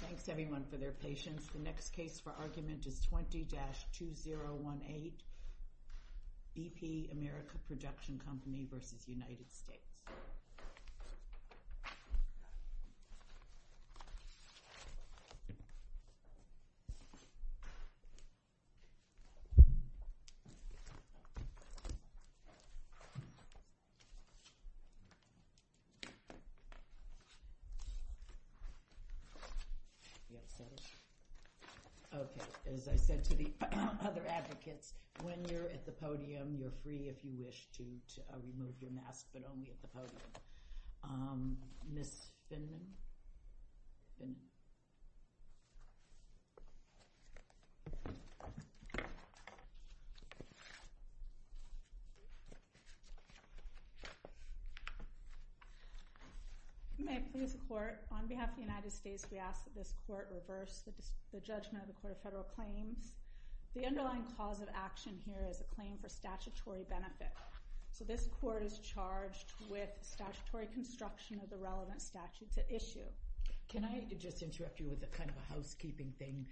Thanks everyone for their patience. The next case for argument is 20-2018 BP America Production Company v. United States. Okay, as I said to the other advocates, when you're at the podium, you're free if you wish to remove your mask, but only at the podium. Ms. Finman? Ms. Finman. You may please report. On behalf of the United States, we ask that this court reverse the judgment of the Court of Federal Claims. The underlying cause of action here is a claim for statutory benefit. So this court is charged with statutory construction of the relevant statute to issue. Can I just interrupt you with a kind of a housekeeping thing?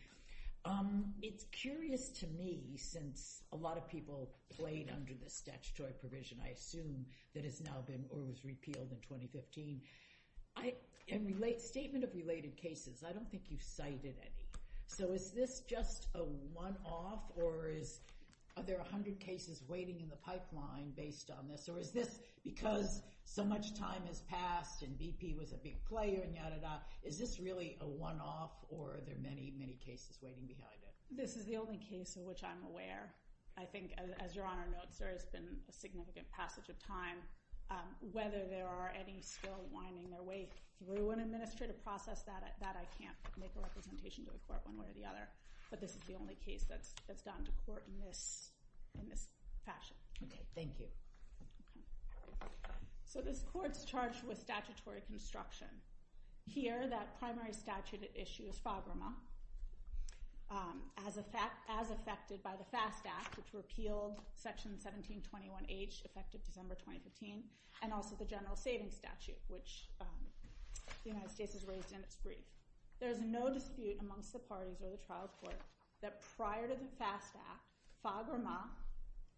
It's curious to me since a lot of people played under the statutory provision, I assume, that has now been or was repealed in 2015. In the statement of related cases, I don't think you cited any. So is this just a one-off, or are there 100 cases waiting in the pipeline based on this? Because so much time has passed and BP was a big player, is this really a one-off, or are there many, many cases waiting behind it? This is the only case in which I'm aware. I think, as Your Honor notes, there has been a significant passage of time. Whether there are any still winding their way through an administrative process, that I can't make a representation to the court one way or the other. But this is the only case that's gotten to court in this fashion. Okay, thank you. So this court's charged with statutory construction. Here, that primary statute issue is FAGRMA, as affected by the FAST Act, which repealed Section 1721H, effective December 2015, and also the General Savings Statute, which the United States has raised in its brief. There is no dispute amongst the parties or the trial court that prior to the FAST Act, FAGRMA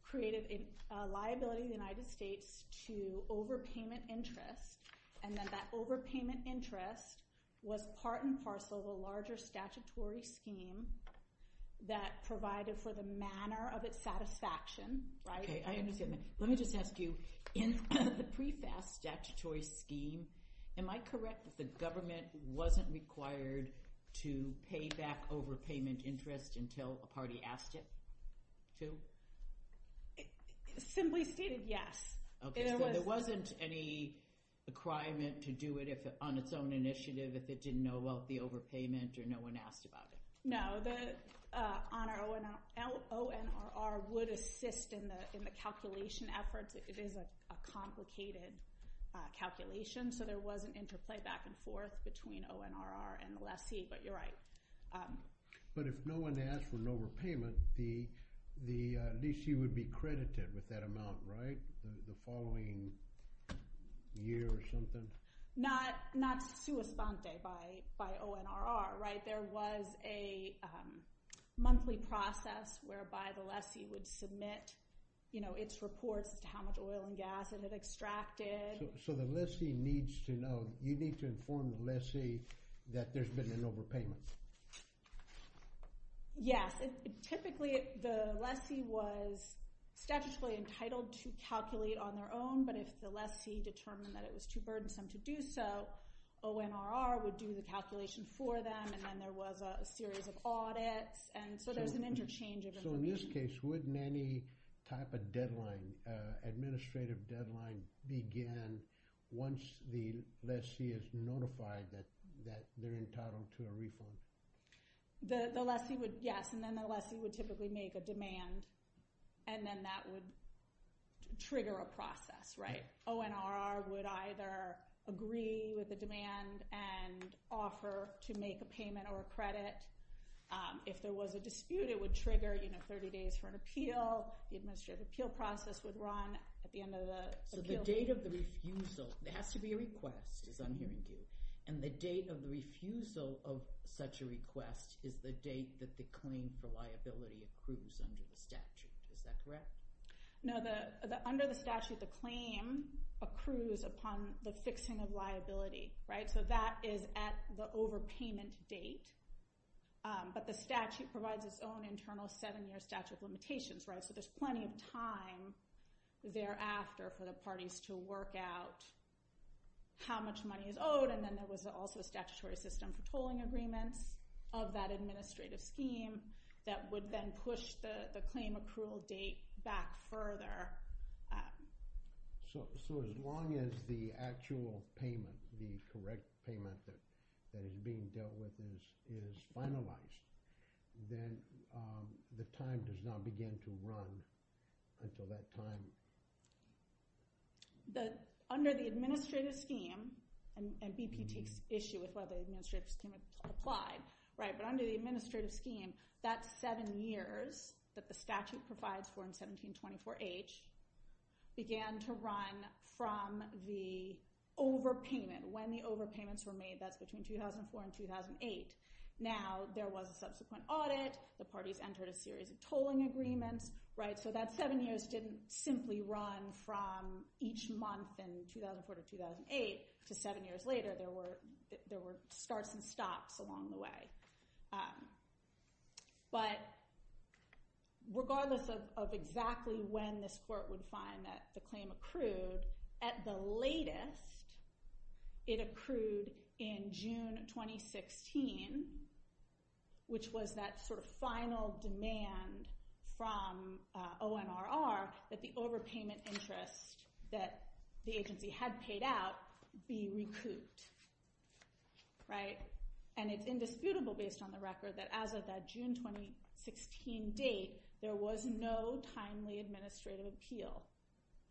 created a liability in the United States to overpayment interest, and then that overpayment interest was part and parcel of a larger statutory scheme that provided for the manner of its satisfaction, right? Okay, I understand that. Let me just ask you, in the pre-FAST statutory scheme, am I correct that the government wasn't required to pay back overpayment interest until a two? Simply stated, yes. Okay, so there wasn't any requirement to do it on its own initiative if it didn't know about the overpayment or no one asked about it? No, the ONRR would assist in the calculation efforts. It is a complicated calculation, so there was an interplay back and forth between ONRR and the lessee, but you're right. But if no one asked for an overpayment, the lessee would be credited with that amount, right? The following year or something? Not suespante by ONRR, right? There was a monthly process whereby the lessee would submit its reports as to how much oil and gas it had extracted. So the lessee needs to know, you need to inform the lessee that there's been an overpayment? Yes, typically the lessee was statutorily entitled to calculate on their own, but if the lessee determined that it was too burdensome to do so, ONRR would do the calculation for them, and then there was a series of audits, and so there's an interchange. So in this case, wouldn't any type of deadline, administrative deadline, begin once the lessee is notified that they're entitled to a refund? The lessee would, yes, and then the lessee would typically make a demand, and then that would trigger a process, right? ONRR would either agree with the demand and offer to make a payment or a credit. If there was a dispute, it would trigger, you know, 30 days for an appeal. The administrative appeal process would run at the end of the appeal period. So the date of the refusal, it has to be a request, is I'm hearing you, and the date of the refusal of such a request is the date that the claim for liability accrues under the statute. Is that correct? No, under the statute, the claim accrues upon the fixing of liability, right? So that is at the overpayment date, but the statute provides its own internal seven-year limitations, right? So there's plenty of time thereafter for the parties to work out how much money is owed, and then there was also a statutory system for tolling agreements of that administrative scheme that would then push the claim accrual date back further. So as long as the actual payment, the correct payment that is being dealt with is finalized, then the time does not begin to run until that time. Under the administrative scheme, and BP takes issue with whether the administrative scheme is applied, right, but under the administrative scheme, that seven years that the statute provides for in 1724H began to run from the overpayment, when the overpayments were made, that's between 2004 and 2008. Now there was a subsequent audit, the parties entered a series of tolling agreements, right? So that seven years didn't simply run from each month in 2004 to 2008, to seven years later, there were starts and stops along the way. But regardless of exactly when this court would find that the claim accrued, at the latest, it accrued in June 2016, which was that sort of final demand from ONRR that the overpayment interest that the agency had paid out be recouped, right? And it's indisputable based on the record that as of that June 2016 date, there was no timely administrative appeal.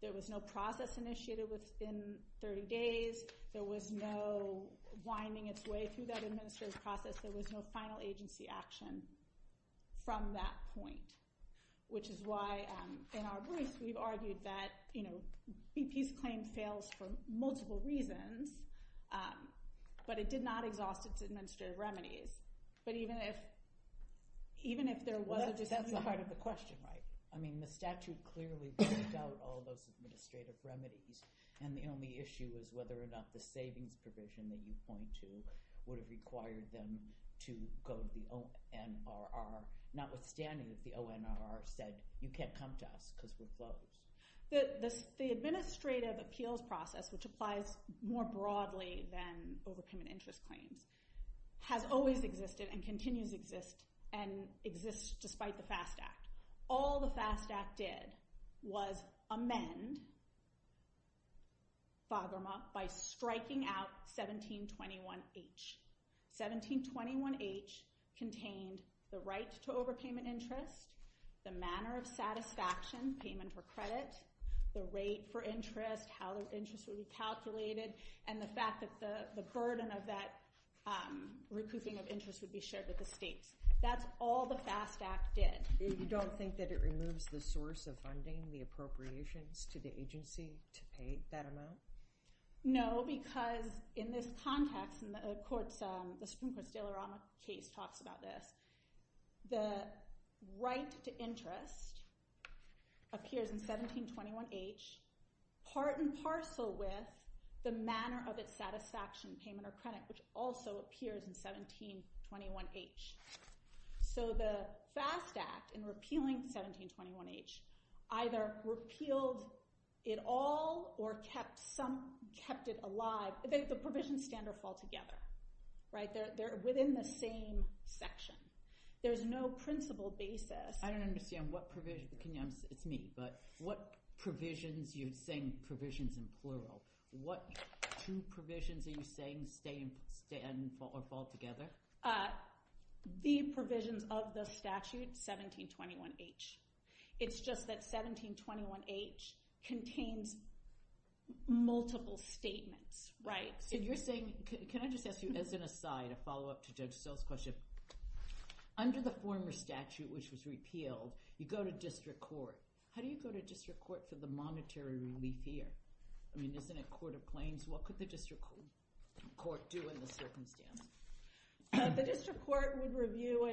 There was no process initiated within 30 days, there was no winding its way through that administrative process, there was no final agency action from that point, which is why in our briefs, we've argued that, you know, BP's claim fails for multiple reasons, but it did not exhaust its administrative remedies. But even if, even if there wasn't, that's the part of the question, right? I mean, the statute clearly worked out all those administrative remedies, and the only issue is whether or not the savings provision that you point to would have required them to go to the ONRR, notwithstanding that the ONRR said, you can't come to us because we're closed. The administrative appeals process, which applies more broadly than overpayment interest claims, has always existed and continues to exist, and exists despite the FAST Act. All the FAST Act did was amend FAGRMA by striking out 1721H. 1721H contained the right to overpayment interest, the manner of satisfaction, payment for credit, the rate for interest, how the interest would be calculated, and the fact that the burden of that recouping of interest would be shared with the states. That's all the FAST Act did. You don't think that it removes the source of funding, the appropriations to the agency to pay that amount? No, because in this context, and the Supreme Court's De La Rama case talks about this, the right to interest appears in 1721H, part and parcel with the manner of its satisfaction, payment or credit, which also appears in 1721H. So the FAST Act, in repealing 1721H, either repealed it all or kept it alive. The provisions stand or fall together. They're within the same section. There's no principle basis. I don't understand what provision, it's me, but what provisions, you're saying provisions in plural, what two provisions are you saying stand or fall together? The provisions of the statute, 1721H. It's just that 1721H contains multiple statements, right? Can I just ask you, as an aside, a follow-up to Judge Sell's question? Under the former statute, which was repealed, you go to district court. How do you go to district court for the monetary relief here? I mean, isn't it court of claims? What could the district court do in this circumstance? The district court would review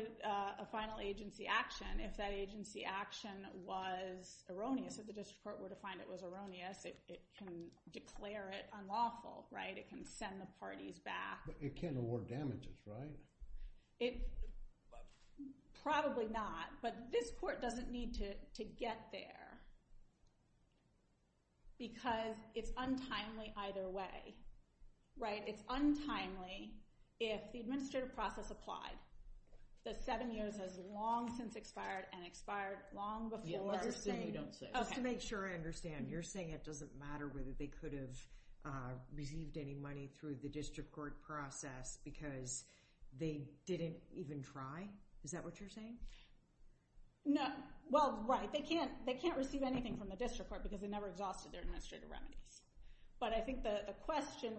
a final agency action. If that agency action was erroneous, if the district court were to find it was erroneous, it can declare it unlawful, right? It can send the parties back. But it can't award damages, right? Probably not, but this court doesn't need to get there because it's untimely either way, right? It's untimely if the administrative process applied, the seven years has long since expired and expired long before. You're just saying you don't say. Just to make sure I understand, you're saying it doesn't matter whether they could have received any money through the district court process because they didn't even try? Is that what you're saying? No. Well, right. They can't receive anything from the district court because they never exhausted their administrative remedies. But I think the question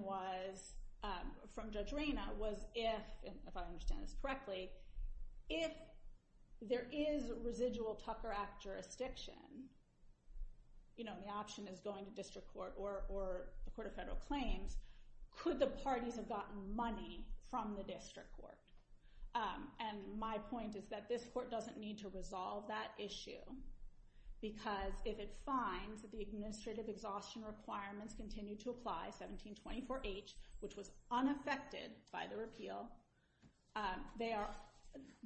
from Judge Reyna was if, if I understand this correctly, if there is residual Tucker Act jurisdiction, you know, the option is going to district court or a court of federal claims, could the parties have gotten money from the district court? And my point is that this court doesn't need to resolve that issue because if it finds that the administrative exhaustion requirements continue to apply, 1724H, which was unaffected by the repeal, they are,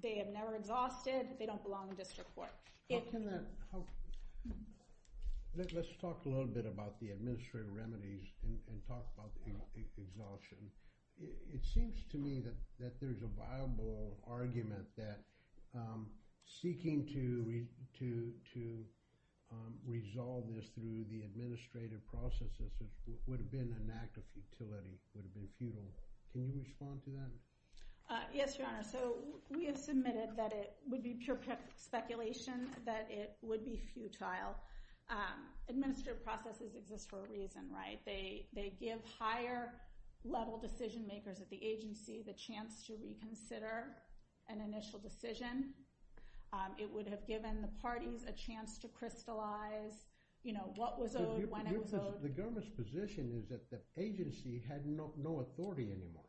they have never exhausted, they don't belong in district court. How can that help? Let's talk a little bit about the administrative remedies and talk about the exhaustion. It seems to me that there's a viable argument that seeking to resolve this through the administrative processes would have been an act of futility, would have been futile. Can you respond to that? Yes, your honor. So we have submitted that would be pure speculation that it would be futile. Administrative processes exist for a reason, right? They, they give higher level decision makers at the agency the chance to reconsider an initial decision. It would have given the parties a chance to crystallize, you know, what was owed, when it was owed. The government's position is that the agency had no, no authority anymore.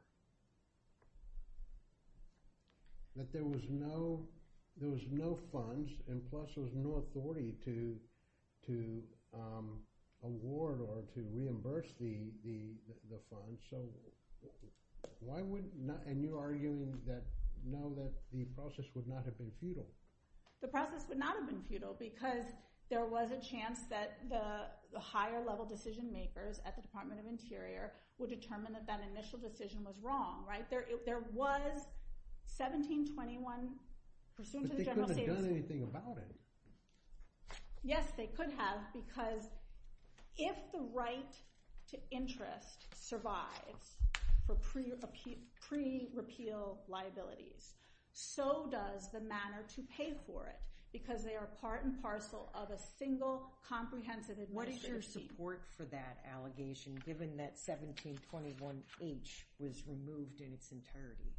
That there was no, there was no funds, and plus there was no authority to, to award or to reimburse the, the, the funds. So why would not, and you're arguing that, no, that the process would not have been futile. The process would not have been futile because there was a chance that the higher level decision makers at the Department of Interior would determine that that initial decision was wrong, right? There, there was 1721 pursuant to the general... But they couldn't have done anything about it. Yes, they could have because if the right to interest survives for pre, pre-repeal liabilities, so does the manner to pay for it because they are part and parcel of a single comprehensive What is your support for that allegation given that 1721H was removed in its entirety?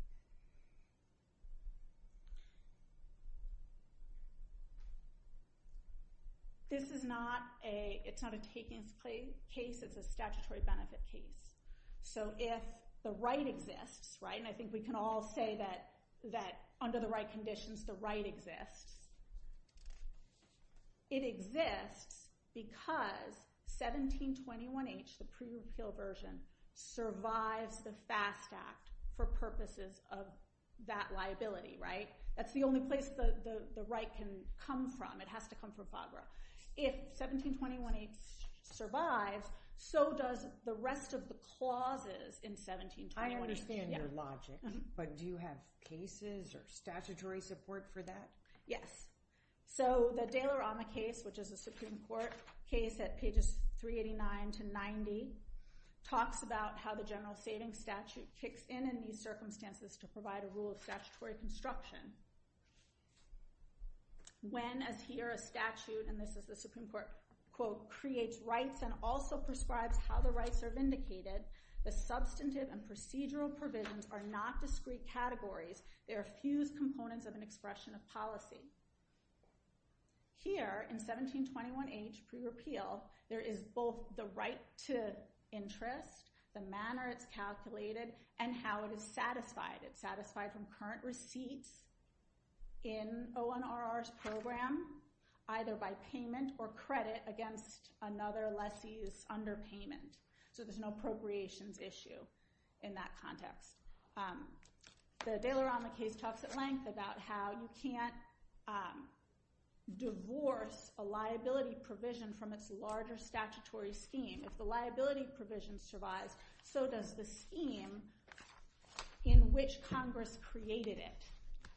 This is not a, it's not a takings case, it's a statutory benefit case. So if the right exists, right, and I think we can all say that, that under the right conditions the right exists, it exists because 1721H, the pre-repeal version, survives the FAST Act for purposes of that liability, right? That's the only place the, the, the right can come from. It has to come from FAGRA. If 1721H survives, so does the rest of the clauses in 1721H. I understand your logic, but do you have cases or statutory support for that? Yes. So the De La Rama case, which is a Supreme Court case at pages 389 to 90, talks about how the general savings statute kicks in in these circumstances to provide a rule of statutory construction. When, as here, a statute, and this is the Supreme Court quote, creates rights and also prescribes how the rights are vindicated, the substantive and procedural provisions are not discrete categories. They are fused components of an expression of policy. Here, in 1721H pre-repeal, there is both the right to interest, the manner it's calculated, and how it is satisfied. It's satisfied from current receipts in ONRR's program, either by payment or credit against another less underpayment. So there's no appropriations issue in that context. The De La Rama case talks at length about how you can't divorce a liability provision from its larger statutory scheme. If the liability provision survives, so does the scheme in which Congress created it.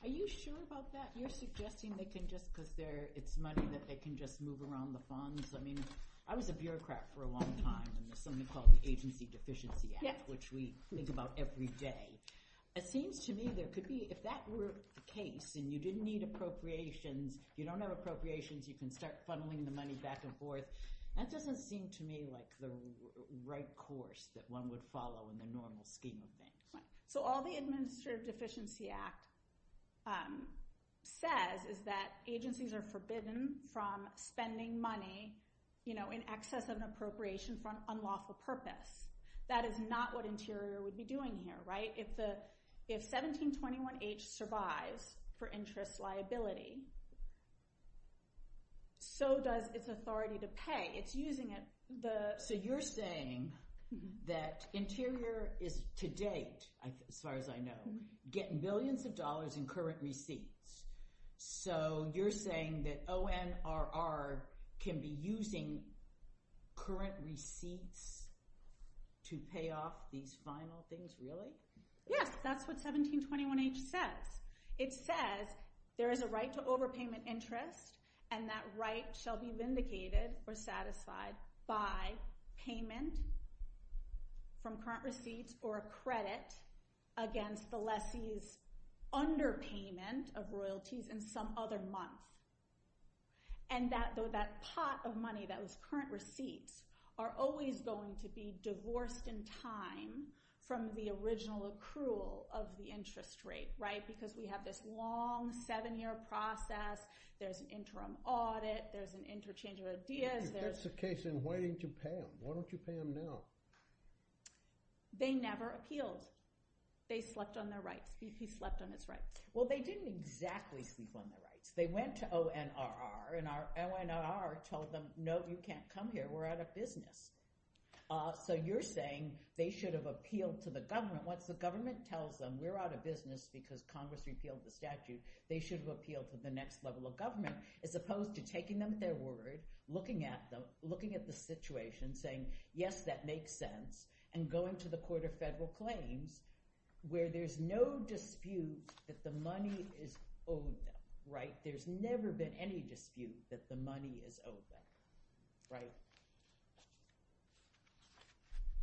Are you sure about that? You're suggesting they can just, because they're, it's money that they can just move around the funds. I mean, I was a bureaucrat for a long time, and there's something called the Agency Deficiency Act, which we think about every day. It seems to me there could be, if that were the case, and you didn't need appropriations, you don't have appropriations, you can start funneling the money back and forth. That doesn't seem to me like the right course that one would follow in the normal scheme of things. So all the Administrative Deficiency Act says is that agencies are forbidden from spending money in excess of an appropriation for an unlawful purpose. That is not what Interior would be doing here, right? If 1721H survives for interest liability, so does its authority to pay. It's using it. So you're saying that Interior is, to date, as far as I know, getting millions of dollars. So ONRR can be using current receipts to pay off these final things, really? Yes, that's what 1721H says. It says there is a right to overpayment interest, and that right shall be vindicated or satisfied by payment from current receipts or a credit against the lessee's underpayment of royalties in some other month. And that pot of money, that was current receipts, are always going to be divorced in time from the original accrual of the interest rate, right? Because we have this long seven-year process, there's an interim audit, there's an interchange of ideas. If that's the case, then why didn't you pay them? Why don't you pay them now? They never appealed. They slept on their rights. He slept on his rights. Well, they didn't exactly sleep on their rights. They went to ONRR, and our ONRR told them, no, you can't come here. We're out of business. So you're saying they should have appealed to the government. Once the government tells them we're out of business because Congress repealed the statute, they should have appealed to the next level of government, as opposed to taking them at their word, looking at the situation, saying, yes, that makes sense, and going to the Court of Federal Claims, where there's no dispute that the money is owed them, right? There's never been any dispute that the money is owed them, right?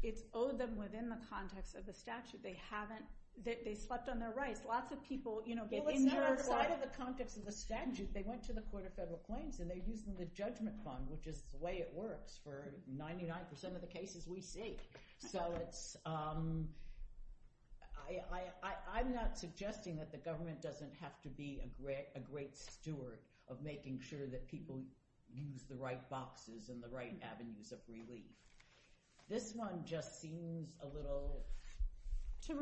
It's owed them within the context of the statute. They slept on their rights. Lots of people, you know, get injured. Well, it's not outside of the context of the statute. They went to the Court of Federal Claims, and they're using the judgment fund, which is the way it works for 99% of the state. So it's, I'm not suggesting that the government doesn't have to be a great steward of making sure that people use the right boxes and the right avenues of relief. This one just seems a little odd. To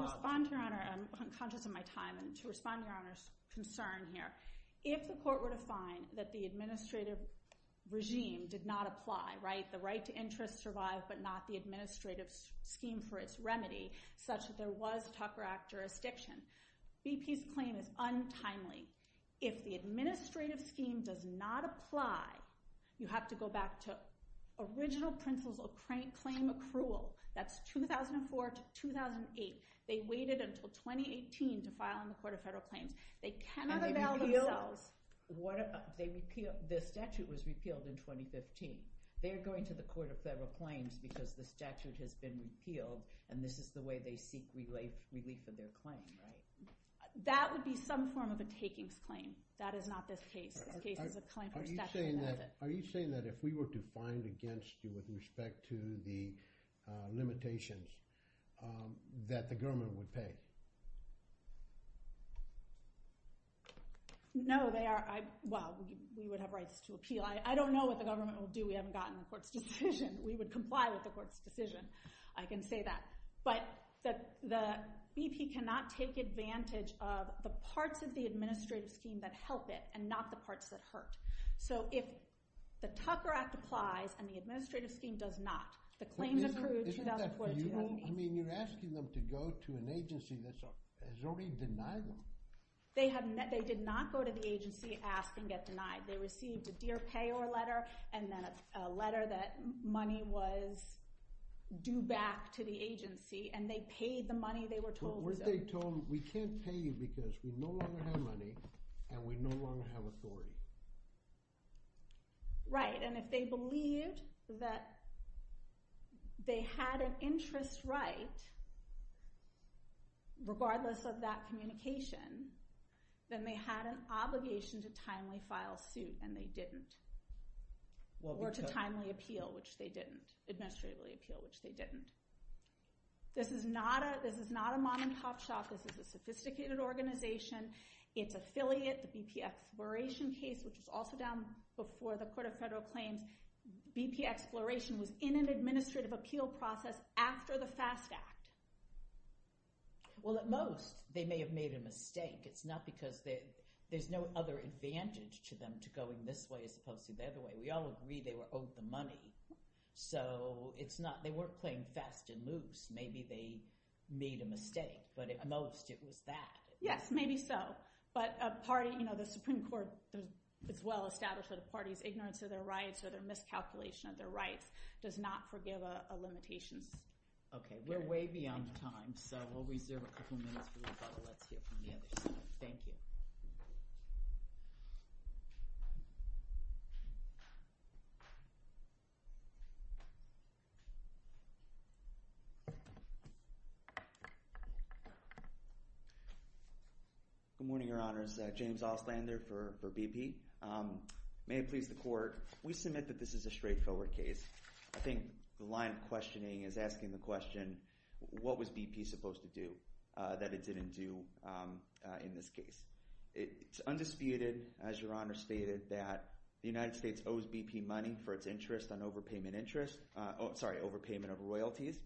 respond to your honor, I'm conscious of my time, and to respond to your honor's concern here. If the court were to find that the administrative regime did not apply, right? The right to interest survived, but not the administrative scheme for its remedy, such that there was Tucker Act jurisdiction. BP's claim is untimely. If the administrative scheme does not apply, you have to go back to original principles of claim accrual. That's 2004 to 2008. They waited until 2018 to file in the Court of Federal Claims. They cannot avail themselves. The statute was repealed in 2015. They're going to the Court of Federal Claims because the statute has been repealed, and this is the way they seek relief of their claim, right? That would be some form of a takings claim. That is not this case. This case is a claim for statute. Are you saying that if we were to find against you with respect to the No, they are. Well, we would have rights to appeal. I don't know what the government will do. We haven't gotten a court's decision. We would comply with the court's decision. I can say that. But the BP cannot take advantage of the parts of the administrative scheme that help it and not the parts that hurt. So if the Tucker Act applies and the administrative scheme does not, the claims accrued 2004 to 2008. Isn't that futile? I mean, you're asking them to go to an agency that has already denied them. They did not go to the agency, ask, and get denied. They received a dear payor letter and then a letter that money was due back to the agency, and they paid the money they were told. Weren't they told, we can't pay you because we no longer have money and we no longer have authority? Right, and if they believed that they had an interest right, regardless of that communication, then they had an obligation to timely file suit, and they didn't. Or to timely appeal, which they didn't. Administratively appeal, which they didn't. This is not a mom-and-pop shop. This is a sophisticated organization. Its affiliate, the BP Exploration case, which was also done before the Court of Federal Claims, BP Exploration was in an administrative appeal process after the FAST Act. Well, at most, they may have made a mistake. It's not because there's no other advantage to them to going this way as opposed to the other way. We all agree they were owed the money. So, they weren't playing fast and loose. Maybe they made a mistake, but at most, it was that. Yes, maybe so. But the Supreme Court is well established that a party's ignorance of their rights or their miscalculation of their rights does not forgive a limitation. Okay, we're way beyond time, so we'll reserve a couple minutes for rebuttal. Let's hear from the other side. Thank you. Good morning, Your Honors. James Auslander for BP. May it please the Court, we submit that this is a straightforward case. I think the line of questioning is asking the question, what was BP supposed to do that it didn't do in this case? It's undisputed, as Your Honor stated, that the United States owes BP money for its interest on overpayment of royalties.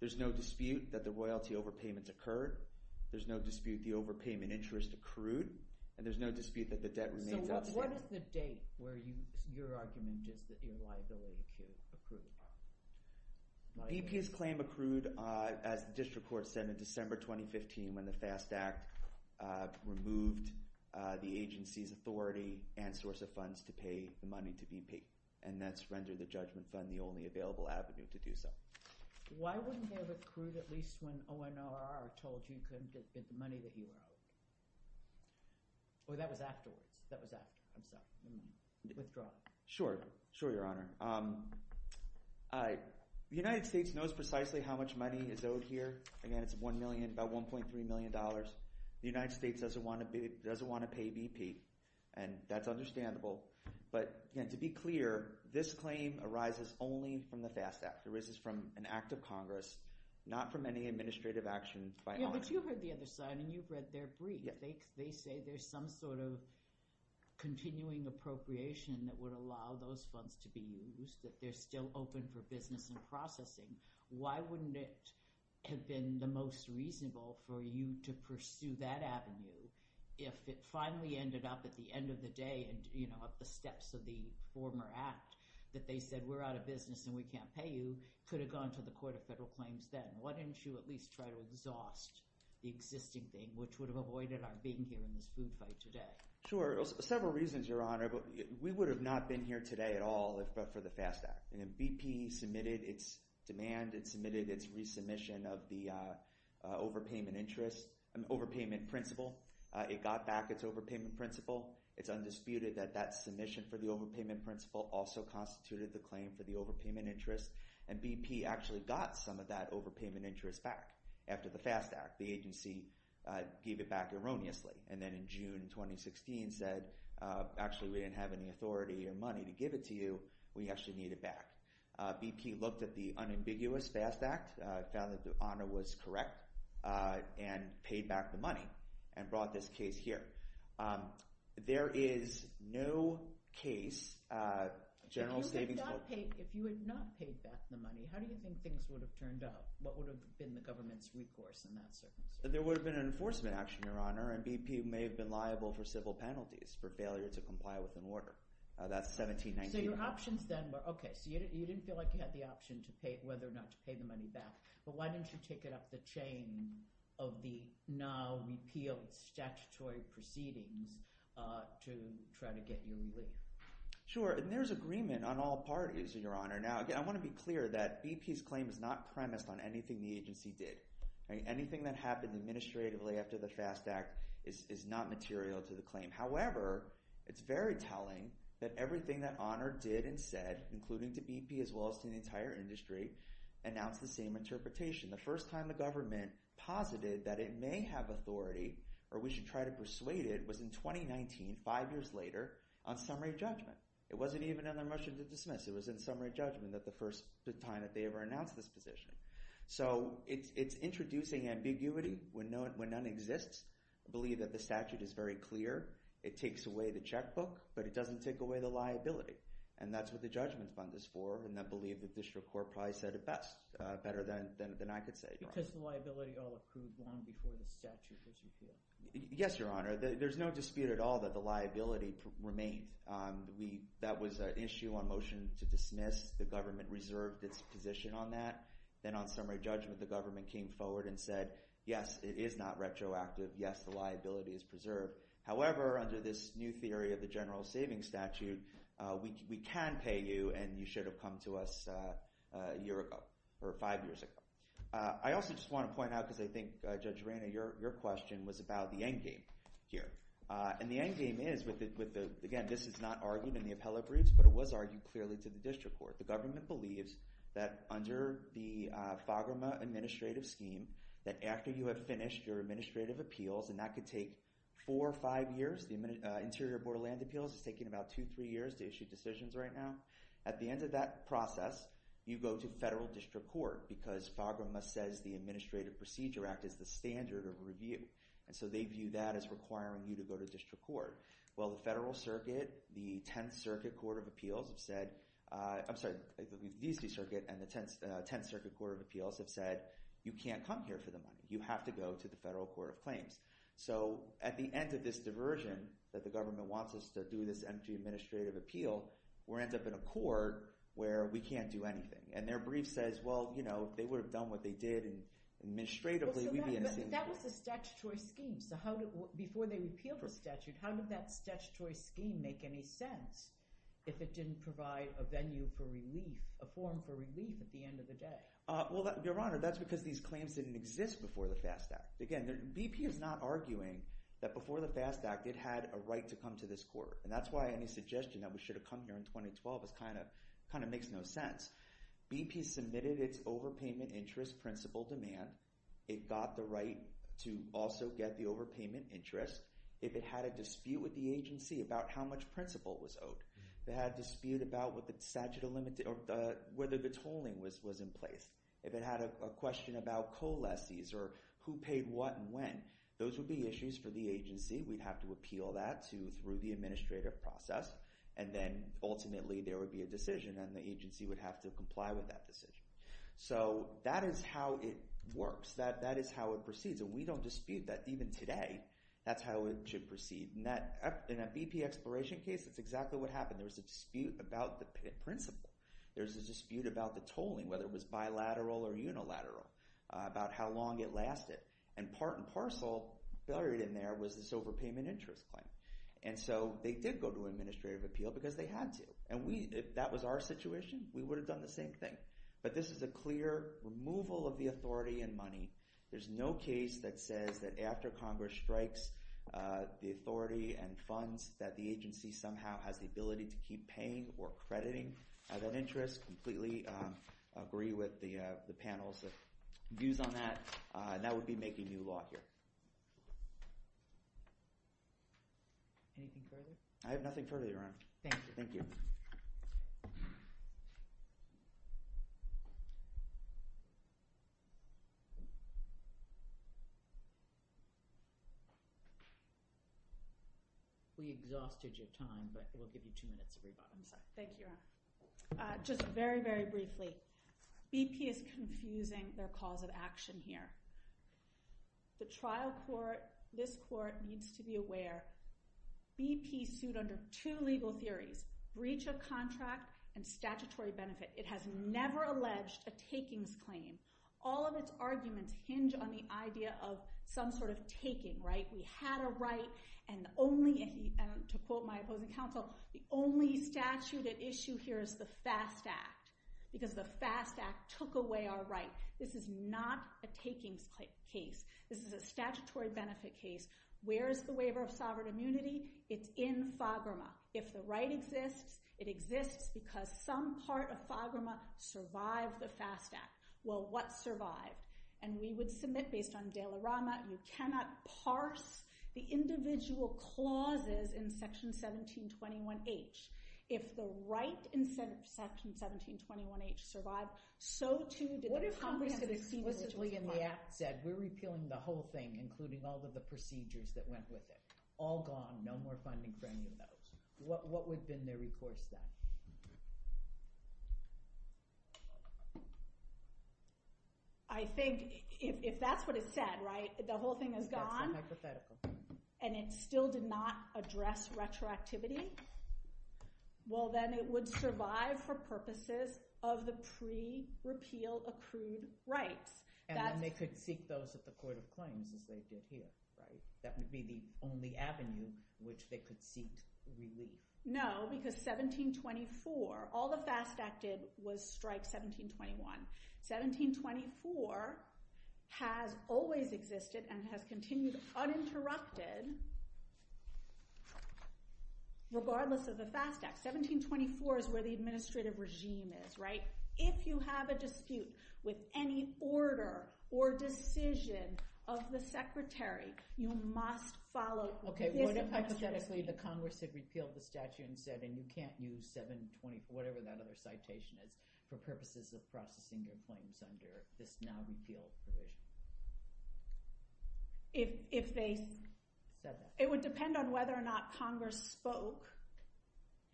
There's no dispute that the royalty overpayments occurred. There's no dispute the overpayment interest accrued, and there's no dispute that the debt remains outstanding. So, what is the date where your argument is that your liability accrued? BP's claim accrued, as the District Court said, in December 2015 when the FAST Act removed the agency's authority and source of funds to pay the money to BP, and that's rendered the Judgment Fund the only available avenue to do so. Why wouldn't they have accrued at least when ONRR told you you couldn't get the money that you owe? Or that was afterwards? That was after, I'm sorry. Withdrawal. Sure. Sure, Your Honor. The United States knows precisely how much money is owed here. Again, it's $1 million, about $1.3 million. The United States doesn't want to pay BP, and that's understandable. But again, to be clear, this claim arises only from the FAST Act. It arises from an act of Congress, not from any administrative action by ONRR. You heard the other side, and you've read their brief. They say there's some sort of continuing appropriation that would allow those funds to be used, that they're still open for business and processing. Why wouldn't it have been the most reasonable for you to pursue that avenue if it finally ended up at the end of the day and at the steps of the former act that they said, we're out of business and we can't pay you, could have gone to the Court of Federal Claims then? Why didn't you at least try to exhaust the existing thing, which would have avoided our being here in this food fight today? Sure. Several reasons, Your Honor. But we would have not been here today at all if it were for the FAST Act. BP submitted its demand, it submitted its resubmission of the overpayment interest, overpayment principle. It got back its overpayment principle. It's undisputed that that submission for the overpayment principle also constituted the claim for the overpayment interest. And BP actually got some of that interest back after the FAST Act. The agency gave it back erroneously. And then in June 2016 said, actually, we didn't have any authority or money to give it to you. We actually need it back. BP looked at the unambiguous FAST Act, found that the honor was correct, and paid back the money and brought this case here. There is no case, general savings... If you had not paid back the money, how do you think things would have turned out? What would have been the government's recourse in that circumstance? There would have been an enforcement action, Your Honor, and BP may have been liable for civil penalties for failure to comply with an order. That's 1791. So your options then were, okay, so you didn't feel like you had the option to pay, whether or not to pay the money back. But why didn't you take it up the chain of the now repealed statutory proceedings to try to get your relief? Sure, and there's agreement on all parties, Your Honor. Now, again, I want to be clear that BP's claim is not premised on anything the agency did. Anything that happened administratively after the FAST Act is not material to the claim. However, it's very telling that everything that Honor did and said, including to BP as well as to the entire industry, announced the same interpretation. The first time the government posited that it may have authority or we should try to persuade it was in 2019, five years later, on summary judgment. It wasn't even in their motion to dismiss. It was in summary judgment at the first time that they ever announced this position. So it's introducing ambiguity when none exists. I believe that the statute is very clear. It takes away the checkbook, but it doesn't take away the liability. And that's what the judgment fund is for, and I believe the district court probably said it best, better than I could say, Your Honor. Because the liability all accrued long before the statute was repealed. Yes, Your Honor. There's no dispute at all that the liability remained. That was an issue on motion to dismiss. The government reserved its position on that. Then on summary judgment, the government came forward and said, yes, it is not retroactive. Yes, the liability is preserved. However, under this new theory of the general savings statute, we can pay you and you should have come to us a year ago or five years ago. I also just want to point out, because I think, Judge Rana, your question was about the endgame here. And the endgame is, again, this is not argued in the appellate briefs, but it was argued clearly to the district court. The government believes that under the FAGRMA administrative scheme, that after you have finished your administrative appeals, and that could take four or five years, the Interior Board of Land Appeals is taking about two, three years to issue decisions right now. At the end of that process, you go to federal district court because FAGRMA says the Administrative Procedure Act is the standard of review. And so they view that as requiring you to go to district court. Well, the Federal Circuit, the 10th Circuit Court of Appeals have said, I'm sorry, the DC Circuit and the 10th Circuit Court of Appeals have said, you can't come here for the money. You have to go to the Federal Court of Claims. So at the end of this diversion that the government wants us to do this empty administrative appeal, we end up in a court where we can't do anything. And their brief says, well, they would have done what they did administratively. Well, so that was a statutory scheme. So before they repealed the statute, how did that statutory scheme make any sense if it didn't provide a venue for relief, a forum for relief at the end of the day? Well, Your Honor, that's because these claims didn't exist before the FAST Act. Again, BP is not arguing that before the FAST Act, it had a right to come to this court. And that's why any suggestion that we should have come here in 2012 kind of makes no sense. BP submitted its overpayment interest principle demand. It got the right to also get the overpayment interest. If it had a dispute with the agency about how much principle was owed, they had a dispute about whether the tolling was in place. If it had a question about co-lessees or who paid what and when, those would be issues for the agency. We'd have to appeal that through the administrative process. And then ultimately, there would be a decision and the agency would have to comply with that decision. So that is how it works. That is how it proceeds. And we don't dispute that. Even today, that's how it should proceed. In a BP exploration case, that's exactly what happened. There was a dispute about the principle. There was a dispute about the tolling, whether it was bilateral or was this overpayment interest claim. And so they did go to administrative appeal because they had to. And if that was our situation, we would have done the same thing. But this is a clear removal of the authority and money. There's no case that says that after Congress strikes the authority and funds that the agency somehow has the ability to keep paying or crediting that interest. Completely agree with the panel's views on that. And that would be making new law here. Anything further? I have nothing further, Your Honor. Thank you. We exhausted your time, but we'll give you two minutes of rebuttal. Thank you, Your Honor. Just very, very briefly, BP is confusing their cause of action here. The trial court, this court, needs to be aware. BP sued under two legal theories, breach of contract and statutory benefit. It has never alleged a takings claim. All of its arguments hinge on the idea of some sort of taking, right? We had a right. And only, to quote my opposing counsel, the only statute at issue here is the FAST Act, because the FAST Act took away our right. This is not a takings case. This is a statutory benefit case. Where is the waiver of sovereign immunity? It's in FAGRMA. If the right exists, it exists because some part of FAGRMA survived the FAST Act. Well, what survived? And we would submit, based on De La Rama, you cannot parse the individual clauses in Section 1721H. If the right in Section 1721H survived, so, too, did the Congress that explicitly in the Act said, we're repealing the whole thing, including all of the procedures that went with it. All gone. No more funding for any of those. What would have been their recourse then? I think, if that's what it said, right? The whole thing is gone, and it still did not address retroactivity, well, then it would survive for purposes of the pre-repeal accrued rights. And then they could seek those at the Court of Claims, as they did here, right? That would be the only avenue which they could seek relief. No, because 1724, all the FAST Act did was strike 1721. 1724 has always existed and has continued uninterrupted, regardless of the FAST Act. 1724 is where the administrative regime is, right? If you have a dispute with any order or decision of the Secretary, you must follow this administration. Okay, what if, hypothetically, the Congress had repealed the statute and said, and you can't use 724, whatever that other citation is, for purposes of processing your claims under this now-repealed provision? It would depend on whether or not Congress spoke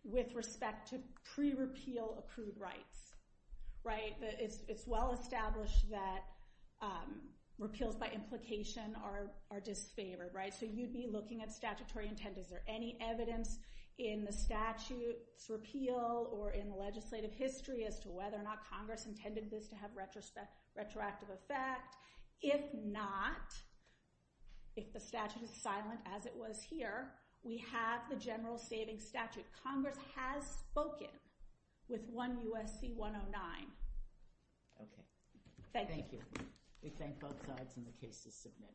with respect to pre-repeal accrued rights, right? It's well established that repeals by implication are disfavored, right? So you'd be looking at statutory intent. Is there any evidence in the statute's repeal or in the legislative history as to whether or not Congress intended this to have retroactive effect? If not, if the statute is silent as it was here, we have the General Savings Statute. Congress has spoken with 1 U.S.C. 109. Okay, thank you. We thank both sides and the case is submitted.